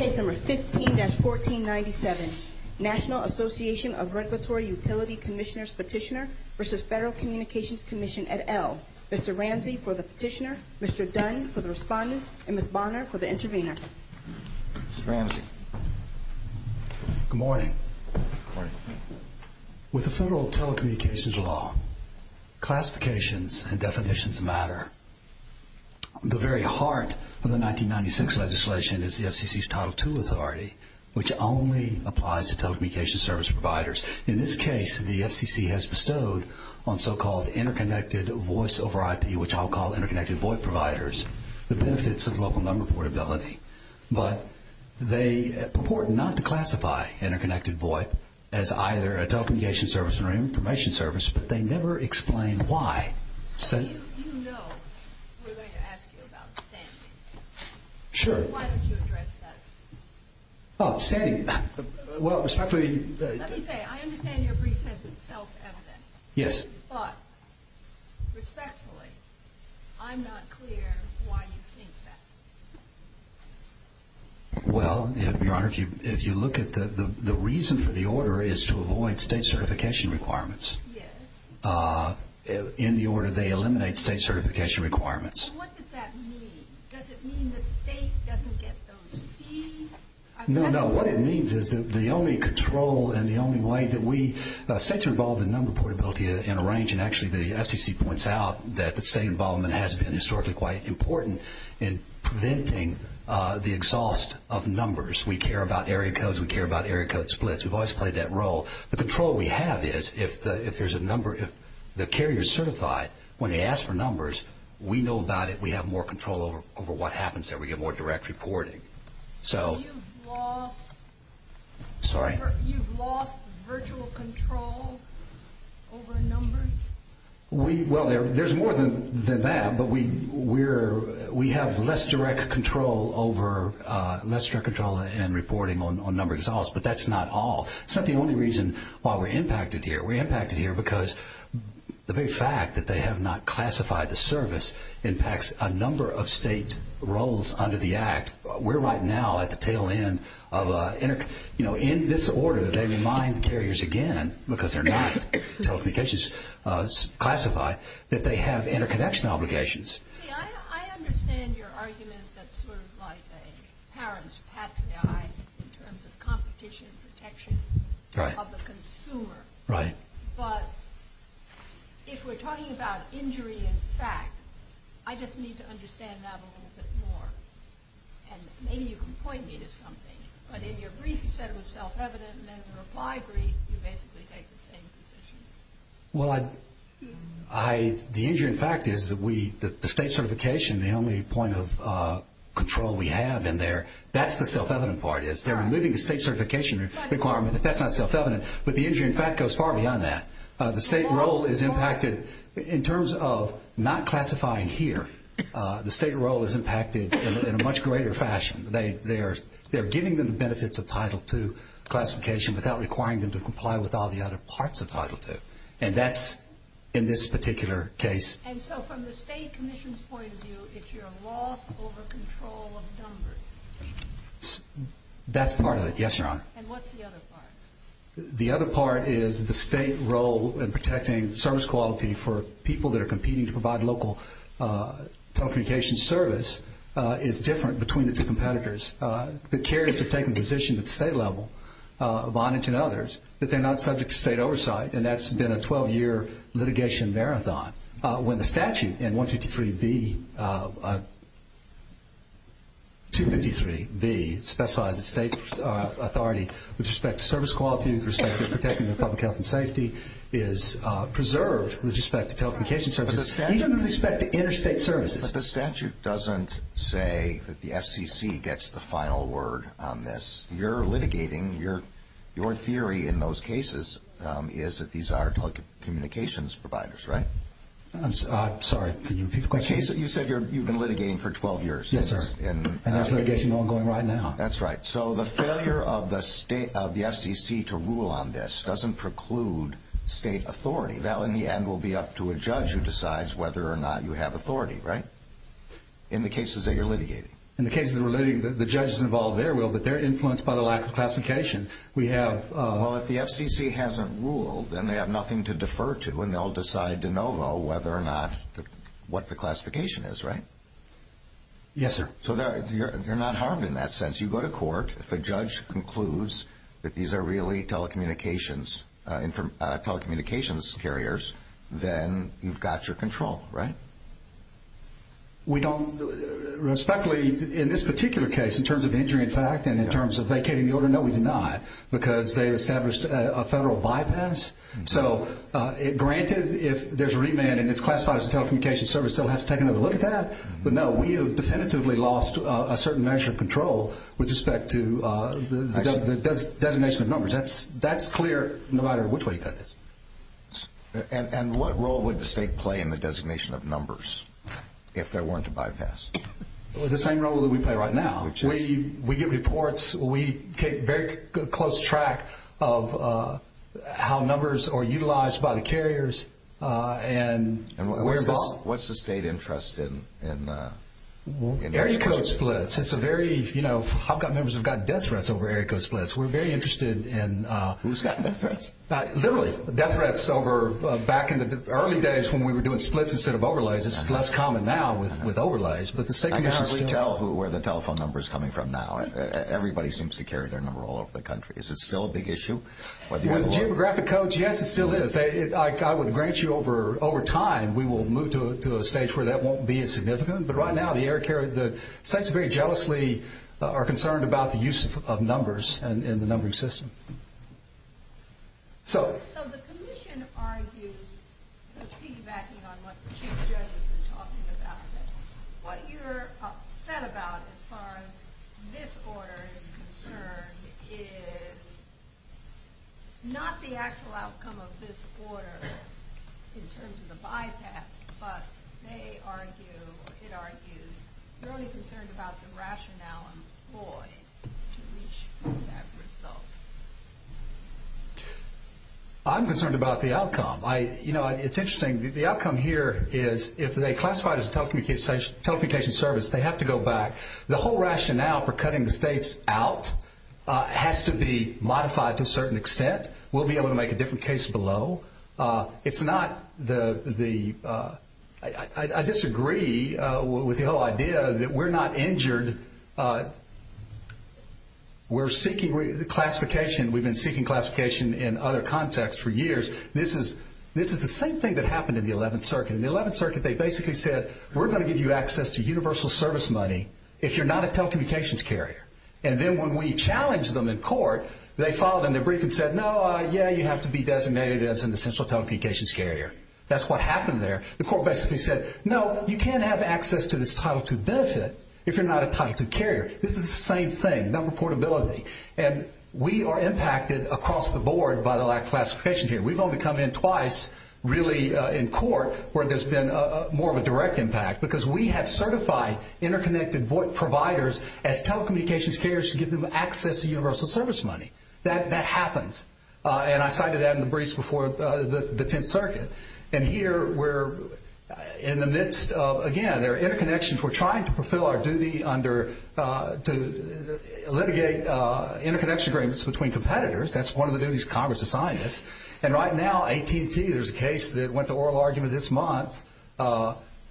15-1497 National Association of Regulatory Utility Commissioners Petitioner v. Federal Communications Commission, et al. Mr. Ramsey for the Petitioner, Mr. Dunn for the Respondent, and Ms. Bonner for the Intervener. Mr. Ramsey. Good morning. Good morning. With the Federal Telecommunications Law, classifications and definitions matter. The very heart of the 1996 legislation is the FCC's Title II Authority, which only applies to telecommunications service providers. In this case, the FCC has bestowed on so-called interconnected voice over IP, which I'll call interconnected VOIP providers, the benefits of local number portability. But they purport not to classify interconnected VOIP as either a telecommunications service or an information service, but they never explain why. You know we're going to ask you about standing. Sure. Why don't you address that? Oh, standing. Let me say, I understand your brief says it's self-evident. Yes. But, respectfully, I'm not clear why you think that. Well, Your Honor, if you look at the reason for the order is to avoid state certification requirements. Yes. In the order they eliminate state certification requirements. What does that mean? Does it mean the state doesn't get those fees? No, no. What it means is that the only control and the only way that we, states are involved in number portability in a range, and actually the FCC points out that the state involvement has been historically quite important in preventing the exhaust of numbers. We care about area that splits. We've always played that role. The control we have is if there's a number, if the carrier is certified, when they ask for numbers, we know about it. We have more control over what happens there. We get more direct reporting. So... You've lost... Sorry? You've lost virtual control over numbers? Well, there's more than that, but we have less direct control over less direct control and reporting on number exhaust, but that's not all. It's not the only reason why we're impacted here. We're impacted here because the very fact that they have not classified the service impacts a number of state roles under the Act. We're right now at the tail end of... In this order, they remind carriers again, because they're not telecommunications classified, that they have interconnection obligations. See, I understand your argument that's sort of like a parent's patriot in terms of competition, protection of the consumer. Right. But if we're talking about injury in fact, I just need to understand that a little bit more, and maybe you can point me to something. But in your brief, you said it was self-evident, and then in your reply brief, you basically take the same position. Well, I... The injury in fact is that we... The state certification, the only point of control we have in there, that's the self-evident part, is they're removing the state certification requirement, but that's not self-evident. But the injury in fact goes far beyond that. The state role is impacted... In terms of not classifying here, the state role is impacted in a much greater fashion. They're giving them the benefits of Title II classification without requiring them to comply with all the other parts of Title II, and that's in this particular case. And so from the state commission's point of view, it's your loss over control of numbers. That's part of it. Yes, Your Honor. And what's the other part? The other part is the state role in protecting service quality for people that are competing to provide local telecommunications service is different between the two competitors. The carriers have taken positions at the state level, Vonage and others, that they're not subject to state oversight, and that's been a 12-year litigation marathon. When the statute in 153B, 253B, specifies that state authority with respect to service quality, with respect to protecting the public health and safety, is preserved with respect to telecommunications services, even with respect to interstate services. But the statute doesn't say that the FCC gets the final word on this. You're litigating, your theory in those cases is that these are telecommunications providers, right? I'm sorry, can you repeat the question? You said you've been litigating for 12 years. Yes, sir. And there's litigation ongoing right now. That's right. So the failure of the FCC to rule on this doesn't preclude state authority. That in the end will be up to a judge who decides whether or not you have authority, right? In the cases that you're litigating. In the cases that we're litigating, the judges involved there will, but they're influenced by the lack of classification. We have... Well, if the FCC hasn't ruled, then they have nothing to defer to, and they'll decide de novo whether or not, what the classification is, right? Yes, sir. So you're not harmed in that sense. You go to court. If a judge concludes that these are really telecommunications carriers, then you've got your control, right? We don't... Respectfully, in this particular case, in terms of injury, in fact, and in terms of vacating the order, no, we do not. Because they established a federal bypass. So granted, if there's a remand and it's classified as a telecommunications service, they'll have to take another look at that. But no, we have definitively lost a certain measure of control with respect to the designation of numbers. That's clear, no matter which way you cut this. And what role would the state play in the designation of numbers, if there weren't a bypass? The same role that we play right now. We give reports. We keep very close track of how numbers are utilized by the carriers, and we're involved... What's the state interest in... Area code splits. It's a very... You know, HOPCOT members have got death threats over back in the early days, when we were doing splits instead of overlays. It's less common now with overlays, but the state commission... I can hardly tell where the telephone number is coming from now. Everybody seems to carry their number all over the country. Is it still a big issue? With geographic codes, yes, it still is. I would grant you, over time, we will move to a stage where that won't be as significant. But right now, the air carrier... Sites very jealously are concerned about the use of numbers in the numbering system. So the commission argues, with feedback on what the chief judge has been talking about, what you're upset about, as far as this order is concerned, is not the actual outcome of this order, in terms of the bypass, but they argue, or it argues, you're only concerned about the rationale employed to reach that result. I'm concerned about the outcome. You know, it's interesting. The outcome here is, if they classify it as a telecommunication service, they have to go back. The whole rationale for cutting the states out has to be modified to a certain extent. We'll be able to make a different case below. It's not the... I disagree with the whole idea that we're not injured. We're seeking classification. We've been seeking classification in other contexts for years. This is the same thing that happened in the 11th Circuit. In the 11th Circuit, they basically said, we're going to give you access to universal service money if you're not a telecommunications carrier. And then when we challenged them in court, they filed in their brief and said, no, yeah, you have to be designated as an essential telecommunications carrier. That's what happened there. The court basically said, no, you can't have access to this Title II benefit if you're not a Title II carrier. This is the same thing, number portability. And we are impacted across the board by the lack of classification here. We've only come in twice, really, in court where there's been more of a direct impact because we have certified interconnected providers as telecommunications carriers to give them access to universal service money. That happens. And I cited that in the briefs before the In the midst of, again, there are interconnections. We're trying to fulfill our duty to litigate interconnection agreements between competitors. That's one of the duties Congress assigned us. And right now, AT&T, there's a case that went to oral argument this month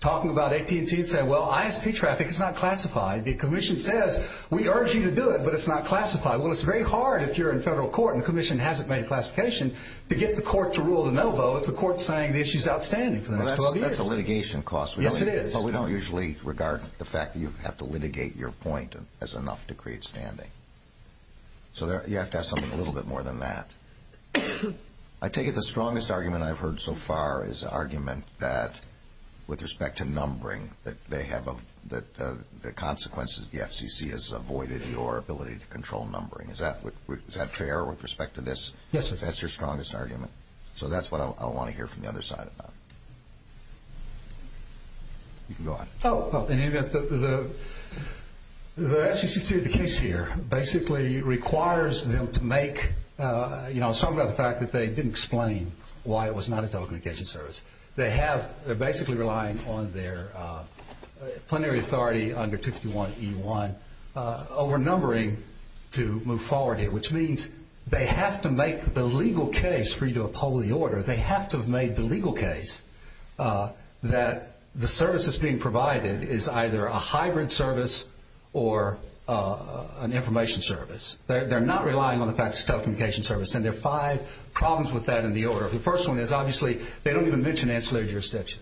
talking about AT&T saying, well, ISP traffic is not classified. The commission says, we urge you to do it, but it's not classified. Well, it's very hard if you're in federal court and the commission hasn't made a classification to get the court to rule the no vote if the court's saying the issue is outstanding. That's a litigation cost. Yes, it is. But we don't usually regard the fact that you have to litigate your point as enough to create standing. So you have to have something a little bit more than that. I take it the strongest argument I've heard so far is the argument that, with respect to numbering, that the consequences of the FCC has avoided your ability to control numbering. Is that fair with respect to this? Yes, sir. That's your strongest argument. So that's what I want to hear from the other side about. You can go on. Well, in any event, the FCC's case here basically requires them to make, you know, some of the fact that they didn't explain why it was not a telecommunication service. They have, they're basically relying on their plenary authority under 51E1 overnumbering to move forward here, which means they have to make the legal case for you to uphold the order. They have to have made the legal case that the service that's being provided is either a hybrid service or an information service. They're not relying on the fact it's a telecommunication service. And there are five problems with that in the order. The first one is, obviously, they don't even mention ancillary jurisdiction.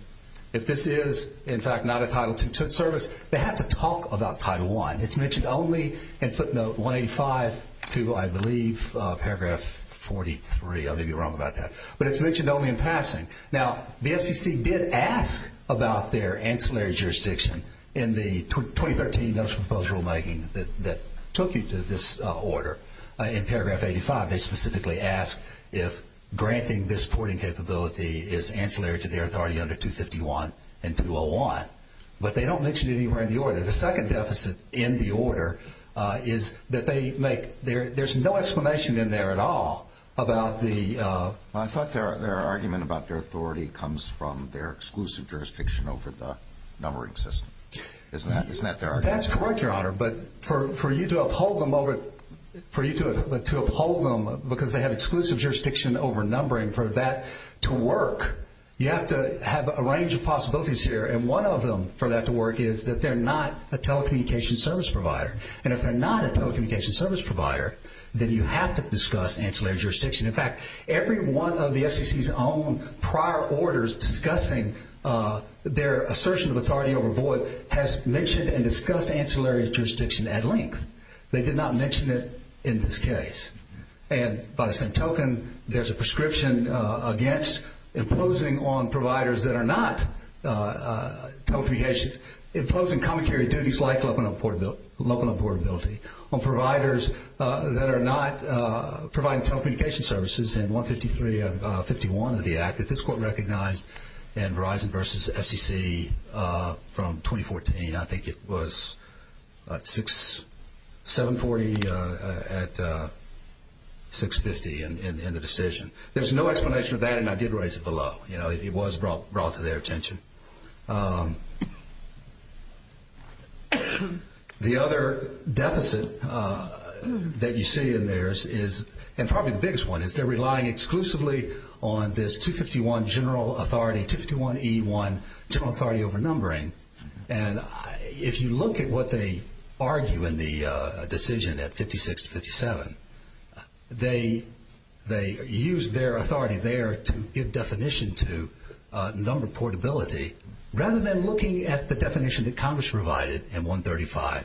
If this is, in fact, not a Title II service, they don't have to talk about Title I. It's mentioned only in footnote 185 to, I believe, paragraph 43. I may be wrong about that. But it's mentioned only in passing. Now, the FCC did ask about their ancillary jurisdiction in the 2013 National Proposed Rulemaking that took you to this order. In paragraph 85, they specifically asked if granting this porting capability is ancillary to their authority under 251 and 201. But they don't mention it anywhere in the order. The second deficit in the order is that there's no explanation in there at all about the... Well, I thought their argument about their authority comes from their exclusive jurisdiction over the numbering system. Isn't that their argument? That's correct, Your Honor. But for you to uphold them because they have exclusive jurisdiction over numbering, for that to work, you have to have a range of possibilities here. And one of them, for that to work, is that they're not a telecommunication service provider. And if they're not a telecommunication service provider, then you have to discuss ancillary jurisdiction. In fact, every one of the FCC's own prior orders discussing their assertion of authority over void has mentioned and discussed ancillary jurisdiction at length. They did not mention it in this case. And by the same token, there's a prescription against imposing on providers that are not telecommunications, imposing commentary duties like local importability on providers that are not providing telecommunication services in 153 and 51 of the Act that this Court recognized in Verizon v. FCC from 2014. I think it was 740 at 650 in the decision. There's no explanation of that, and I did raise it below. It was brought to their attention. The other deficit that you see in theirs is, and probably the biggest one, is they're relying exclusively on this 251 General Authority, 251E1 General Authority They use their authority there to give definition to number portability rather than looking at the definition that Congress provided in 135,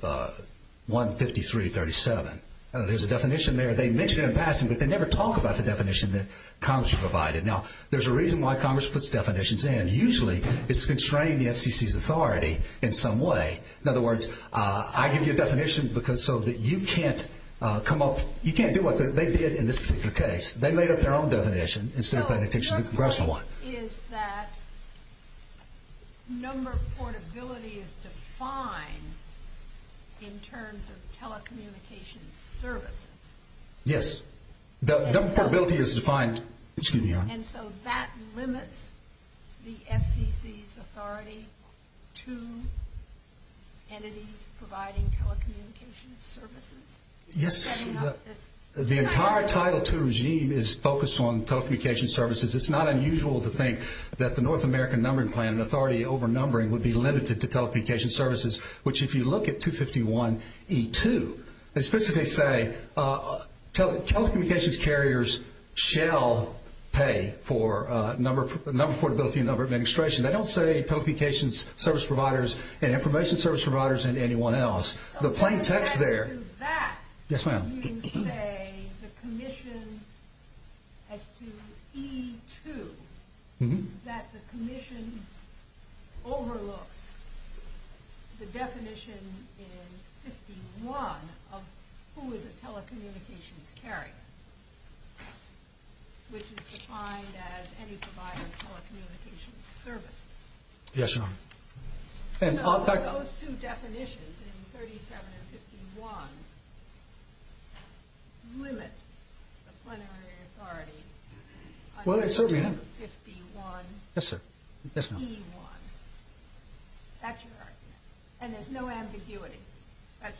153, 37. There's a definition there. They mention it in passing, but they never talk about the definition that Congress provided. Now, there's a reason why Congress puts definitions in. Usually, it's constraining the FCC's authority in some way. In other words, I give you a definition so that you can't come up with another one. You can't do what they did in this particular case. They made up their own definition instead of paying attention to the Congressional one. So, your point is that number portability is defined in terms of telecommunication services? Yes. Number portability is defined. And so that limits the FCC's authority to entities providing telecommunication services? Yes. The entire Title II regime is focused on telecommunication services. It's not unusual to think that the North American Numbering Plan and authority overnumbering would be limited to telecommunication services, which if you look at 251E2, it's supposed to say telecommunications carriers shall pay for number portability and number administration. They don't say telecommunications service providers and information service providers and anyone else. The plain text there... As to that, you say the commission as to E2, that the commission overlooks the definition in 51 of who is a telecommunications carrier, which is defined as any provider of telecommunications services. Yes, ma'am. So, those two definitions in 37 and 51 limit the plenary authority under 251E1. That's your argument. And there's no ambiguity.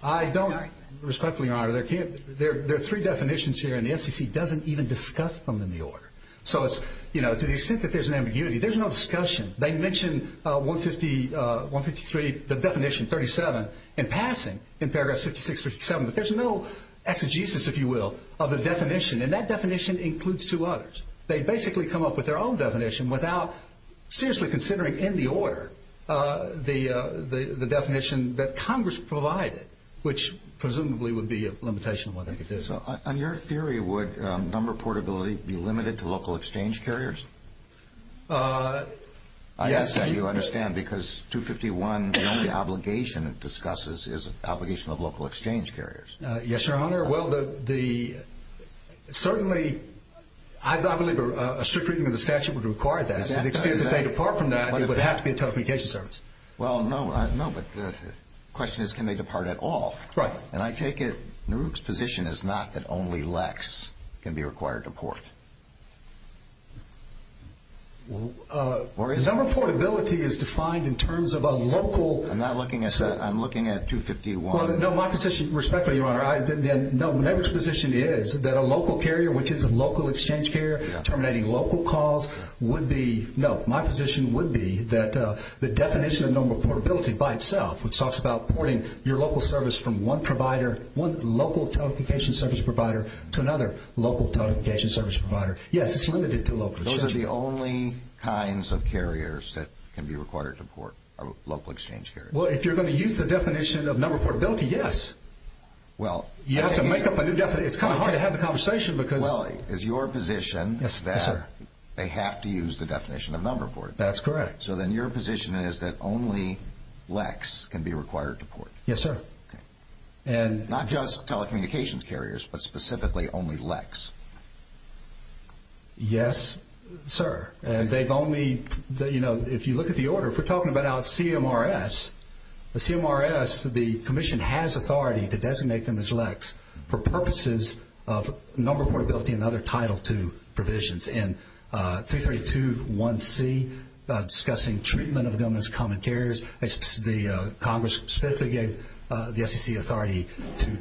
I don't, respectfully, Your Honor. There are three definitions here and the FCC doesn't even discuss them in the order. So, to the extent that there's an ambiguity, there's no discussion. They mention 153, the definition 37, in passing in paragraph 56, 57, but there's no exegesis, if you will, of the definition. And that definition includes two others. They basically come up with their own definition without seriously considering in the order the definition that Congress provided, which presumably would be a limitation on what they could do. So, on your theory, would number portability be limited to local exchange carriers? Yes. I ask that you understand, because 251, the only obligation it discusses is the obligation of local exchange carriers. Yes, Your Honor. Well, certainly, I believe a strict reading of the statute would require that. To the extent that they depart from that, it would have to be a telecommunications service. Well, no, but the question is, can they depart at all? Right. And I take it NARUC's position is not that only LEX can be required to port. Well, number portability is defined in terms of a local... I'm not looking at... I'm looking at 251. No, my position, respectfully, Your Honor, NARUC's position is that a local carrier, which is a local exchange carrier, terminating local calls, would be... No, my position would be that the definition of number portability by itself, which talks about porting your local service from one provider, one local telecommunications service provider, to another local telecommunications service provider, yes, it's limited to local exchange carriers. Those are the only kinds of carriers that can be required to port, are local exchange carriers. Well, if you're going to use the definition of number portability, yes. Well... You have to make up a new definition. It's kind of hard to have the conversation because... Well, is your position that they have to use the definition of number portability? That's correct. So then your position is that only LEX can be required to port. Yes, sir. Not just telecommunications carriers, but specifically only LEX. Yes, sir. And they've only... If you look at the order, if we're talking about CMRS, the CMRS, the Commission has authority to designate them as LEX for purposes of number portability and other Title II provisions. And 332.1c, discussing treatment of them as common carriers, the Congress specifically gave the SEC authority to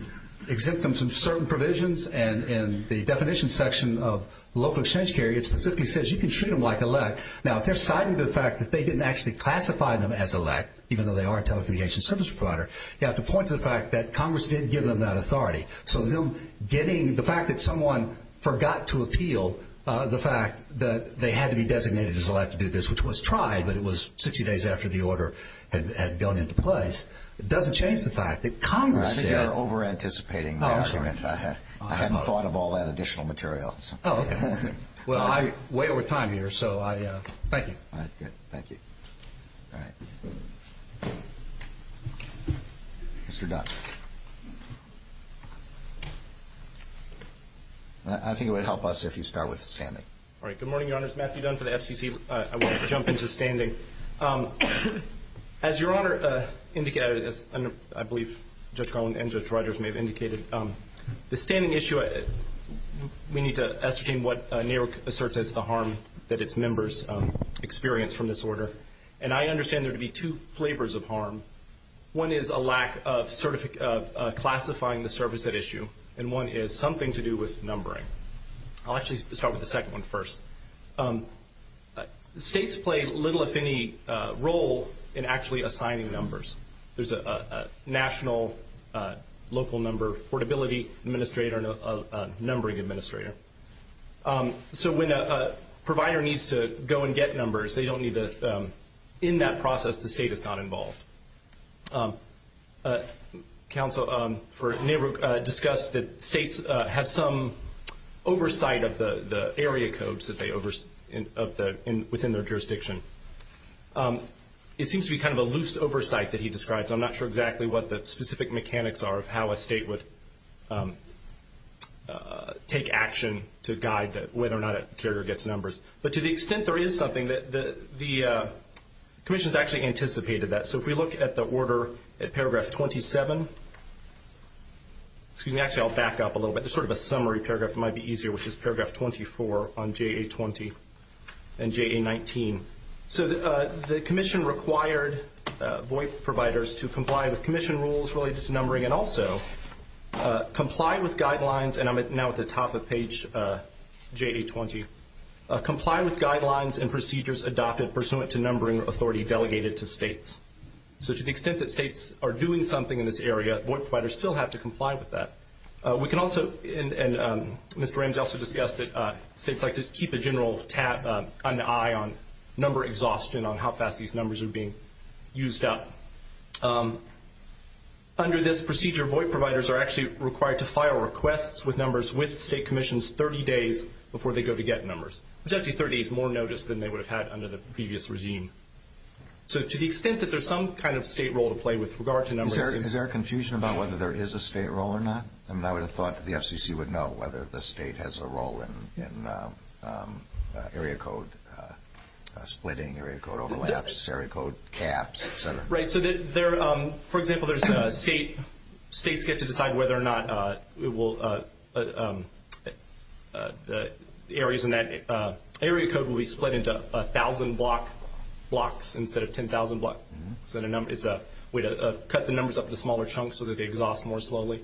exempt them from certain provisions. And in the definition section of local exchange carrier, it specifically says you can treat them like a LEX. Now, if they're citing the fact that they didn't actually classify them as a LEX, even though they are a telecommunications service provider, you have to point to the fact that Congress did give them that authority. So them getting... The fact that someone forgot to appeal the fact that they had to be designated as allowed to do this, which was tried, but it was 60 days after the order had gone into place, doesn't change the fact that Congress said... I think you're over-anticipating the argument. I hadn't thought of all that additional material. Oh, okay. Well, I'm way over time here, so I... Thank you. All right, good. Thank you. All right. Mr. Dunn. I think it would help us if you start with Stanley. All right. Good morning, Your Honors. Matthew Dunn for the FCC. I want to jump into standing. As Your Honor indicated, as I believe Judge Garland and Judge Ryders may have indicated, the standing issue, we need to ascertain what NARIC asserts as the harm that its members experience from this order. And I understand there to be two flavors of harm. One is a lack of classifying the service at issue, and one is something to do with numbering. I'll actually start with the second one first. States play little, if any, role in actually assigning numbers. There's a national local number portability administrator and a numbering administrator. So when a provider needs to go and get numbers, they don't need to... In that process, the state is not involved. Counsel for NARIC discussed that states have some oversight of the area codes within their jurisdiction. It seems to be kind of a loose oversight that he described. I'm not sure exactly what the specific mechanics are of how a state would take action to guide whether or not a carrier gets numbers. But to the extent there is something, the Commission has actually anticipated that. So if we look at the order at paragraph 27, excuse me, actually I'll back up a little bit. There's sort of a summary paragraph. It might be easier, which is paragraph 24 on JA-20 and JA-19. So the Commission required VOIP providers to comply with Commission rules related to numbering and also comply with guidelines, and I'm now at the top of page JA-20, comply with guidelines and procedures adopted pursuant to numbering authority delegated to states. So to the extent that states are doing something in this area, VOIP providers still have to comply with that. We can also, and Mr. Ramsey also discussed it, states like to keep a general tab, an eye on number exhaustion on how fast these numbers are being used up. Under this procedure, VOIP providers are actually required to file requests with numbers with state commissions 30 days before they go to get numbers, which is actually 30 days more notice than they would have had under the previous regime. So to the extent that there's some kind of state role to play with regard to numbers. Is there confusion about whether there is a state role or not? I mean, I would have thought the FCC would know whether the state has a role in area code splitting, For example, states get to decide whether or not areas in that area code will be split into 1,000 blocks instead of 10,000 blocks. It's a way to cut the numbers up into smaller chunks so that they exhaust more slowly.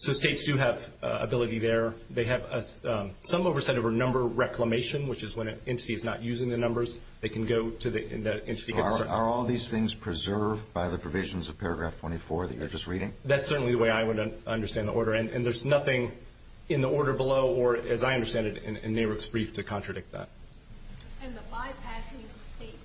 So states do have ability there. They have some oversight over number reclamation, which is when an entity is not using the numbers. They can go to the entity. Are all these things preserved by the provisions of paragraph 24 that you're just reading? That's certainly the way I would understand the order. And there's nothing in the order below or, as I understand it, in NARIP's brief to contradict that. And the bypassing of state certification,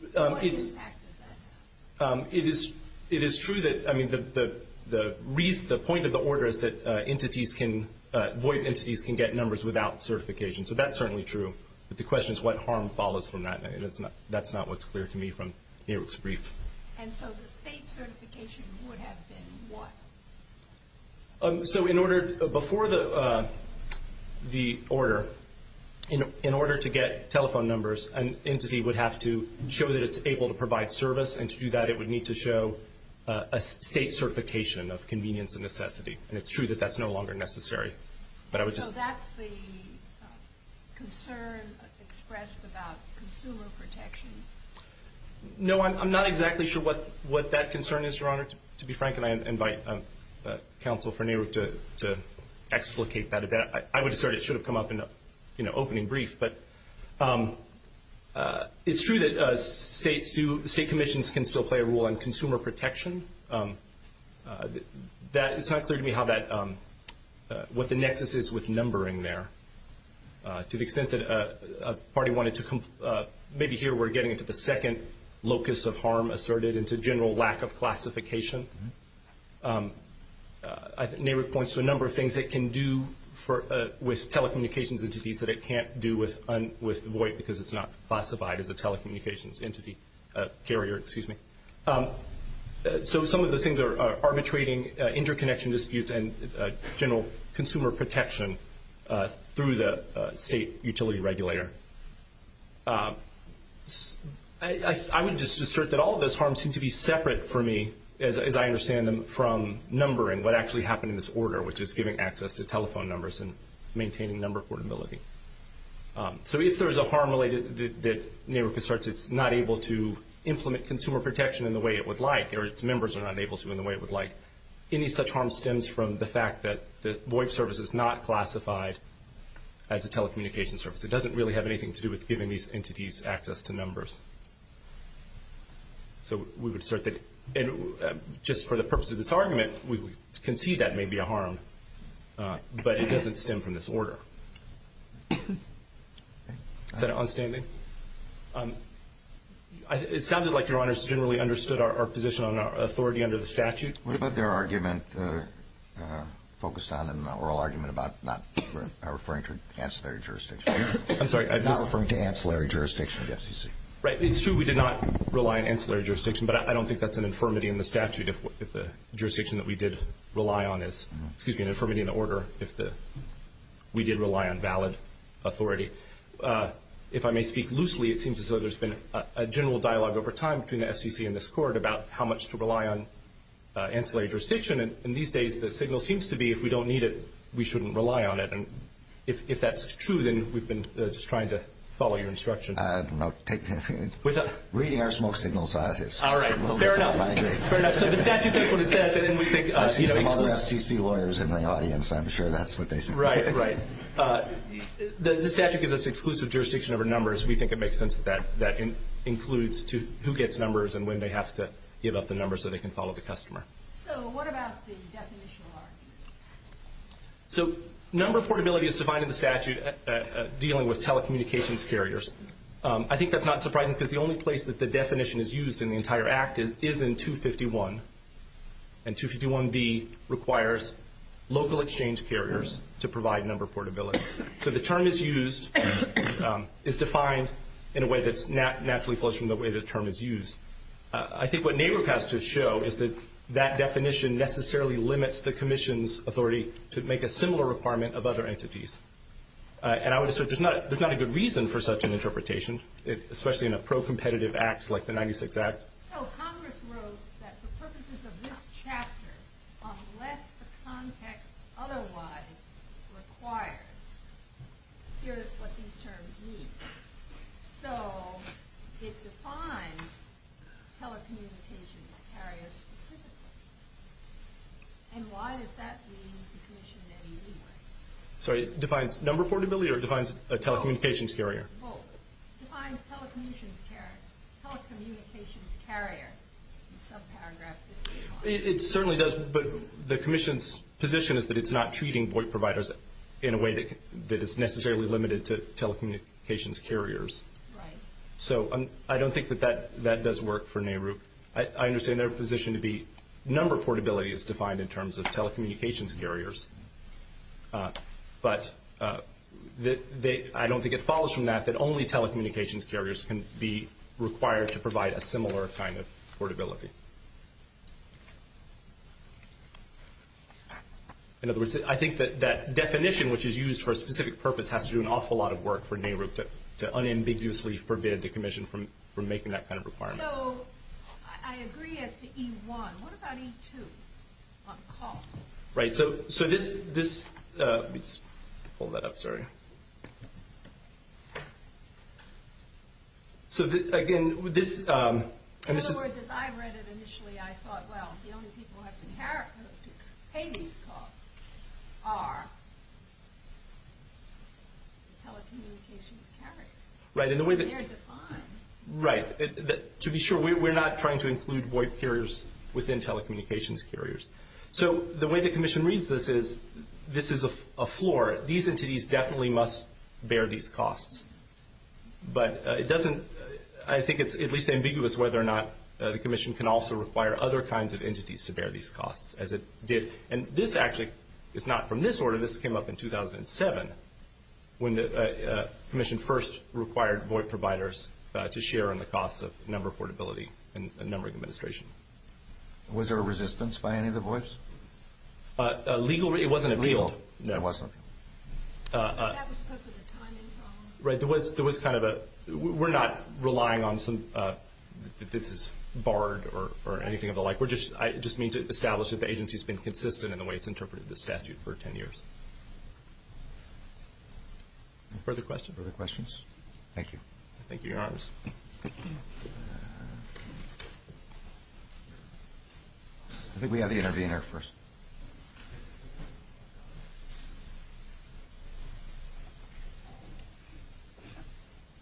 what impact does that have? It is true that the point of the order is that VOIP entities can get numbers without certification. So that's certainly true. But the question is what harm follows from that, and that's not what's clear to me from NARIP's brief. And so the state certification would have been what? So before the order, in order to get telephone numbers, an entity would have to show that it's able to provide service, and to do that it would need to show a state certification of convenience and necessity. And it's true that that's no longer necessary. So that's the concern expressed about consumer protection? No, I'm not exactly sure what that concern is, Your Honor. To be frank, and I invite counsel for NARIP to explicate that. I would assert it should have come up in an opening brief. It's true that state commissions can still play a role in consumer protection. It's not clear to me what the nexus is with numbering there. To the extent that a party wanted to maybe here we're getting into the second locus of harm asserted into general lack of classification. NARIP points to a number of things it can do with telecommunications entities that it can't do with VOIP because it's not classified as a telecommunications carrier. Excuse me. So some of those things are arbitrating interconnection disputes and general consumer protection through the state utility regulator. I would just assert that all of those harms seem to be separate for me, as I understand them, from numbering, what actually happened in this order, which is giving access to telephone numbers and maintaining number portability. So if there's a harm related that NARIP asserts it's not able to implement consumer protection in the way it would like or its members are not able to in the way it would like, any such harm stems from the fact that the VOIP service is not classified as a telecommunications service. It doesn't really have anything to do with giving these entities access to numbers. So we would assert that just for the purpose of this argument, we would concede that may be a harm, but it doesn't stem from this order. Is that onstanding? It sounded like Your Honors generally understood our position on authority under the statute. What about their argument focused on an oral argument about not referring to ancillary jurisdiction? I'm sorry. Not referring to ancillary jurisdiction of the FCC. Right. It's true we did not rely on ancillary jurisdiction, but I don't think that's an infirmity in the statute if the jurisdiction that we did rely on is, excuse me, an infirmity in the order if we did rely on valid authority. If I may speak loosely, it seems as though there's been a general dialogue over time between the FCC and this Court about how much to rely on ancillary jurisdiction, and these days the signal seems to be if we don't need it, we shouldn't rely on it. And if that's true, then we've been just trying to follow your instruction. Reading our smoke signals, scientists. All right. Fair enough. Fair enough. So the statute says what it says. I see some other FCC lawyers in the audience. I'm sure that's what they think. Right, right. The statute gives us exclusive jurisdiction over numbers. We think it makes sense that that includes who gets numbers and when they have to give up the numbers so they can follow the customer. So what about the definitional argument? So number portability is defined in the statute dealing with telecommunications carriers. I think that's not surprising because the only place that the definition is used in the entire act is in 251. And 251B requires local exchange carriers to provide number portability. So the term is used, is defined in a way that's naturally flows from the way the term is used. I think what NARUC has to show is that that definition necessarily limits the commission's authority to make a similar requirement of other entities. And I would assert there's not a good reason for such an interpretation, especially in a pro-competitive act like the 96 Act. So Congress wrote that for purposes of this chapter, unless the context otherwise requires, here's what these terms mean. So it defines telecommunications carriers specifically. And why does that mean the commission didn't use them? Sorry, it defines number portability or it defines a telecommunications carrier? Both. It defines telecommunications carrier in some paragraph. It certainly does, but the commission's position is that it's not treating void providers in a way that is necessarily limited to telecommunications carriers. Right. So I don't think that that does work for NARUC. I understand their position to be number portability is defined in terms of telecommunications carriers. But I don't think it follows from that that only telecommunications carriers can be required to provide a similar kind of portability. In other words, I think that that definition, which is used for a specific purpose, has to do an awful lot of work for NARUC to unambiguously forbid the commission from making that kind of requirement. So I agree as to E1. What about E2 on cost? Right. So this – let me just pull that up, sorry. So, again, this – In other words, as I read it initially, I thought, well, the only people who have to pay these costs are telecommunications carriers. Right. They're defined. Right. To be sure, we're not trying to include void carriers within telecommunications carriers. So the way the commission reads this is this is a floor. These entities definitely must bear these costs. But it doesn't – I think it's at least ambiguous whether or not the commission can also require other kinds of entities to bear these costs, as it did. And this actually is not from this order. This came up in 2007 when the commission first required void providers to share in the costs of number portability and numbering administration. Was there a resistance by any of the voids? A legal – it wasn't appealed. No. That was because of the timing problem. Right. There was kind of a – we're not relying on some – this is barred or anything of the like. I just mean to establish that the agency has been consistent in the way it's interpreted the statute for 10 years. Further questions? Further questions? Thank you. Thank you, Your Honors. I think we have the intervener first.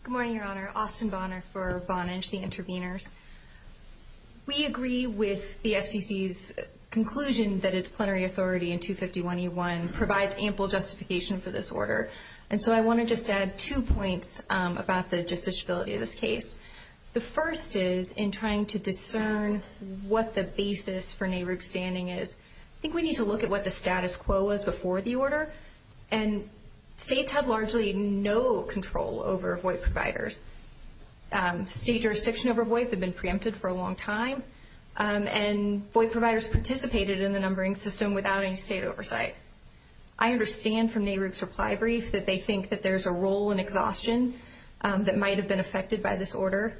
Good morning, Your Honor. Austin Bonner for Bonage, the interveners. We agree with the FCC's conclusion that its plenary authority in 251E1 provides ample justification for this order. And so I want to just add two points about the justiciability of this case. The first is in trying to discern what the basis for NARUC standing is. I think we need to look at what the status quo was before the order. And states had largely no control over void providers. State jurisdiction over void had been preempted for a long time, and void providers participated in the numbering system without any state oversight. I understand from NARUC's reply brief that they think that there's a role in exhaustion that might have been affected by this order.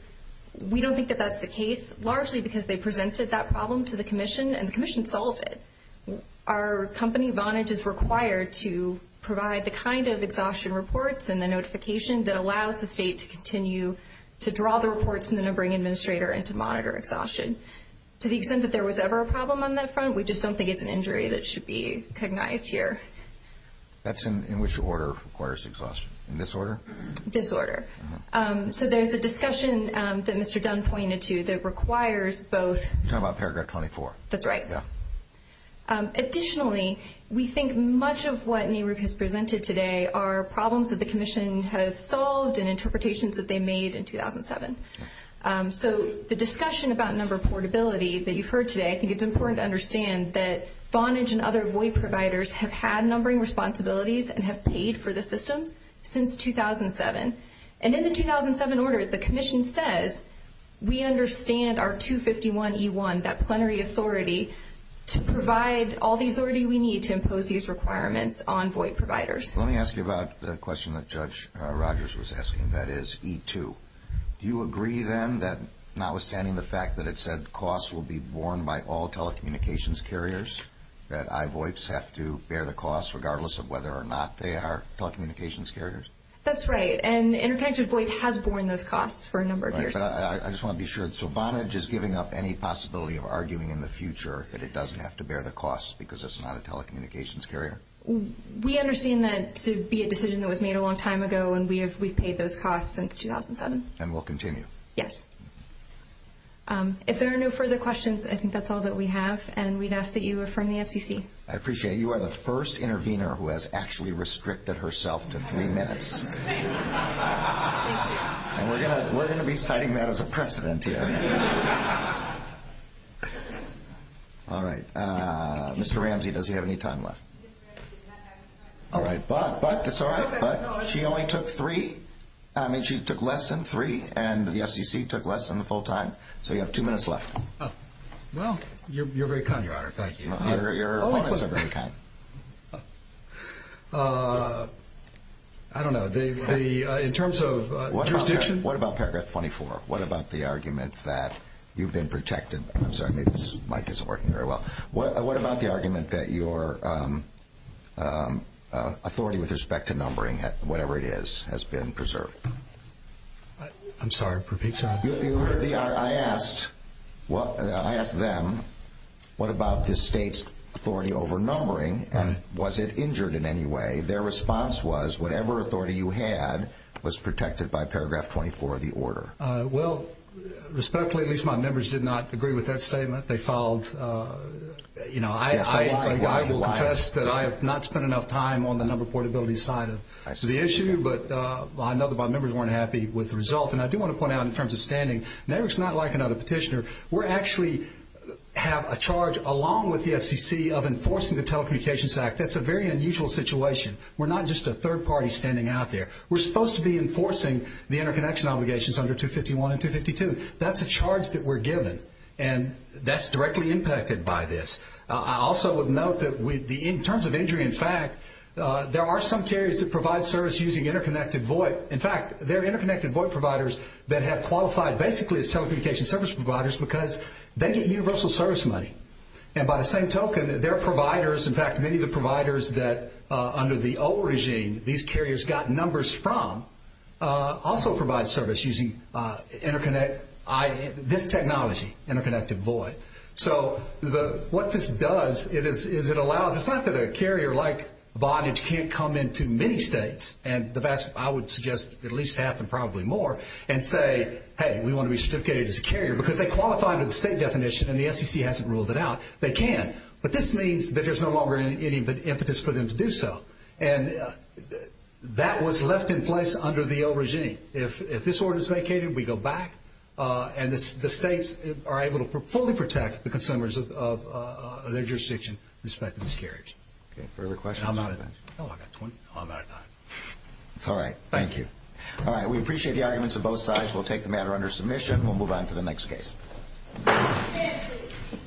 We don't think that that's the case, largely because they presented that problem to the commission, and the commission solved it. Our company, Bonage, is required to provide the kind of exhaustion reports and the notification that allows the state to continue to draw the reports in the numbering administrator and to monitor exhaustion. To the extent that there was ever a problem on that front, we just don't think it's an injury that should be recognized here. That's in which order requires exhaustion? In this order? This order. So there's a discussion that Mr. Dunn pointed to that requires both. You're talking about paragraph 24. That's right. Additionally, we think much of what NARUC has presented today are problems that the commission has solved and interpretations that they made in 2007. So the discussion about number portability that you've heard today, I think it's important to understand that Bonage and other void providers have had numbering responsibilities and have paid for the system since 2007. And in the 2007 order, the commission says, we understand our 251E1, that plenary authority, to provide all the authority we need to impose these requirements on void providers. Let me ask you about the question that Judge Rogers was asking, that is E2. Do you agree then that notwithstanding the fact that it said costs will be borne by all telecommunications carriers, that iVoIPs have to bear the costs regardless of whether or not they are telecommunications carriers? That's right. And Interconnected VoIP has borne those costs for a number of years. Right. But I just want to be sure. So Bonage is giving up any possibility of arguing in the future that it doesn't have to bear the costs because it's not a telecommunications carrier? We understand that to be a decision that was made a long time ago, and we've paid those costs since 2007. And will continue? Yes. If there are no further questions, I think that's all that we have. And we'd ask that you affirm the FCC. I appreciate it. You are the first intervener who has actually restricted herself to three minutes. And we're going to be citing that as a precedent here. All right. Mr. Ramsey, does he have any time left? All right. But it's all right. She only took three. I mean, she took less than three, and the FCC took less than the full time. So you have two minutes left. Well, you're very kind, Your Honor. Thank you. Your comments are very kind. I don't know. In terms of jurisdiction. What about paragraph 24? What about the argument that you've been protected? I'm sorry. Maybe this mic isn't working very well. What about the argument that your authority with respect to numbering, whatever it is, has been preserved? I'm sorry. Repeat, sir. I asked them, what about the state's authority over numbering, and was it injured in any way? Their response was, whatever authority you had was protected by paragraph 24 of the order. Well, respectfully, at least my members did not agree with that statement. They filed, you know, I will confess that I have not spent enough time on the number portability side of the issue. But I know that my members weren't happy with the result. And I do want to point out in terms of standing, NAICS is not like another petitioner. We're actually have a charge along with the FCC of enforcing the Telecommunications Act. That's a very unusual situation. We're not just a third party standing out there. We're supposed to be enforcing the interconnection obligations under 251 and 252. That's a charge that we're given. And that's directly impacted by this. I also would note that in terms of injury, in fact, there are some carriers that provide service using interconnected VOIP. In fact, they're interconnected VOIP providers that have qualified basically as telecommunications service providers because they get universal service money. And by the same token, their providers, in fact, many of the providers that under the old regime these carriers got numbers from, also provide service using interconnect, this technology, interconnected VOIP. So what this does is it allows, it's not that a carrier like Vonage can't come into many states, and I would suggest at least half and probably more, and say, hey, we want to be certificated as a carrier because they qualify under the state definition and the FCC hasn't ruled it out. They can. But this means that there's no longer any impetus for them to do so. And that was left in place under the old regime. If this order is vacated, we go back, and the states are able to fully protect the consumers of their jurisdiction, respectively as carriers. Okay, further questions? I'm out of time. It's all right. Thank you. All right, we appreciate the arguments of both sides. We'll take the matter under submission. We'll move on to the next case.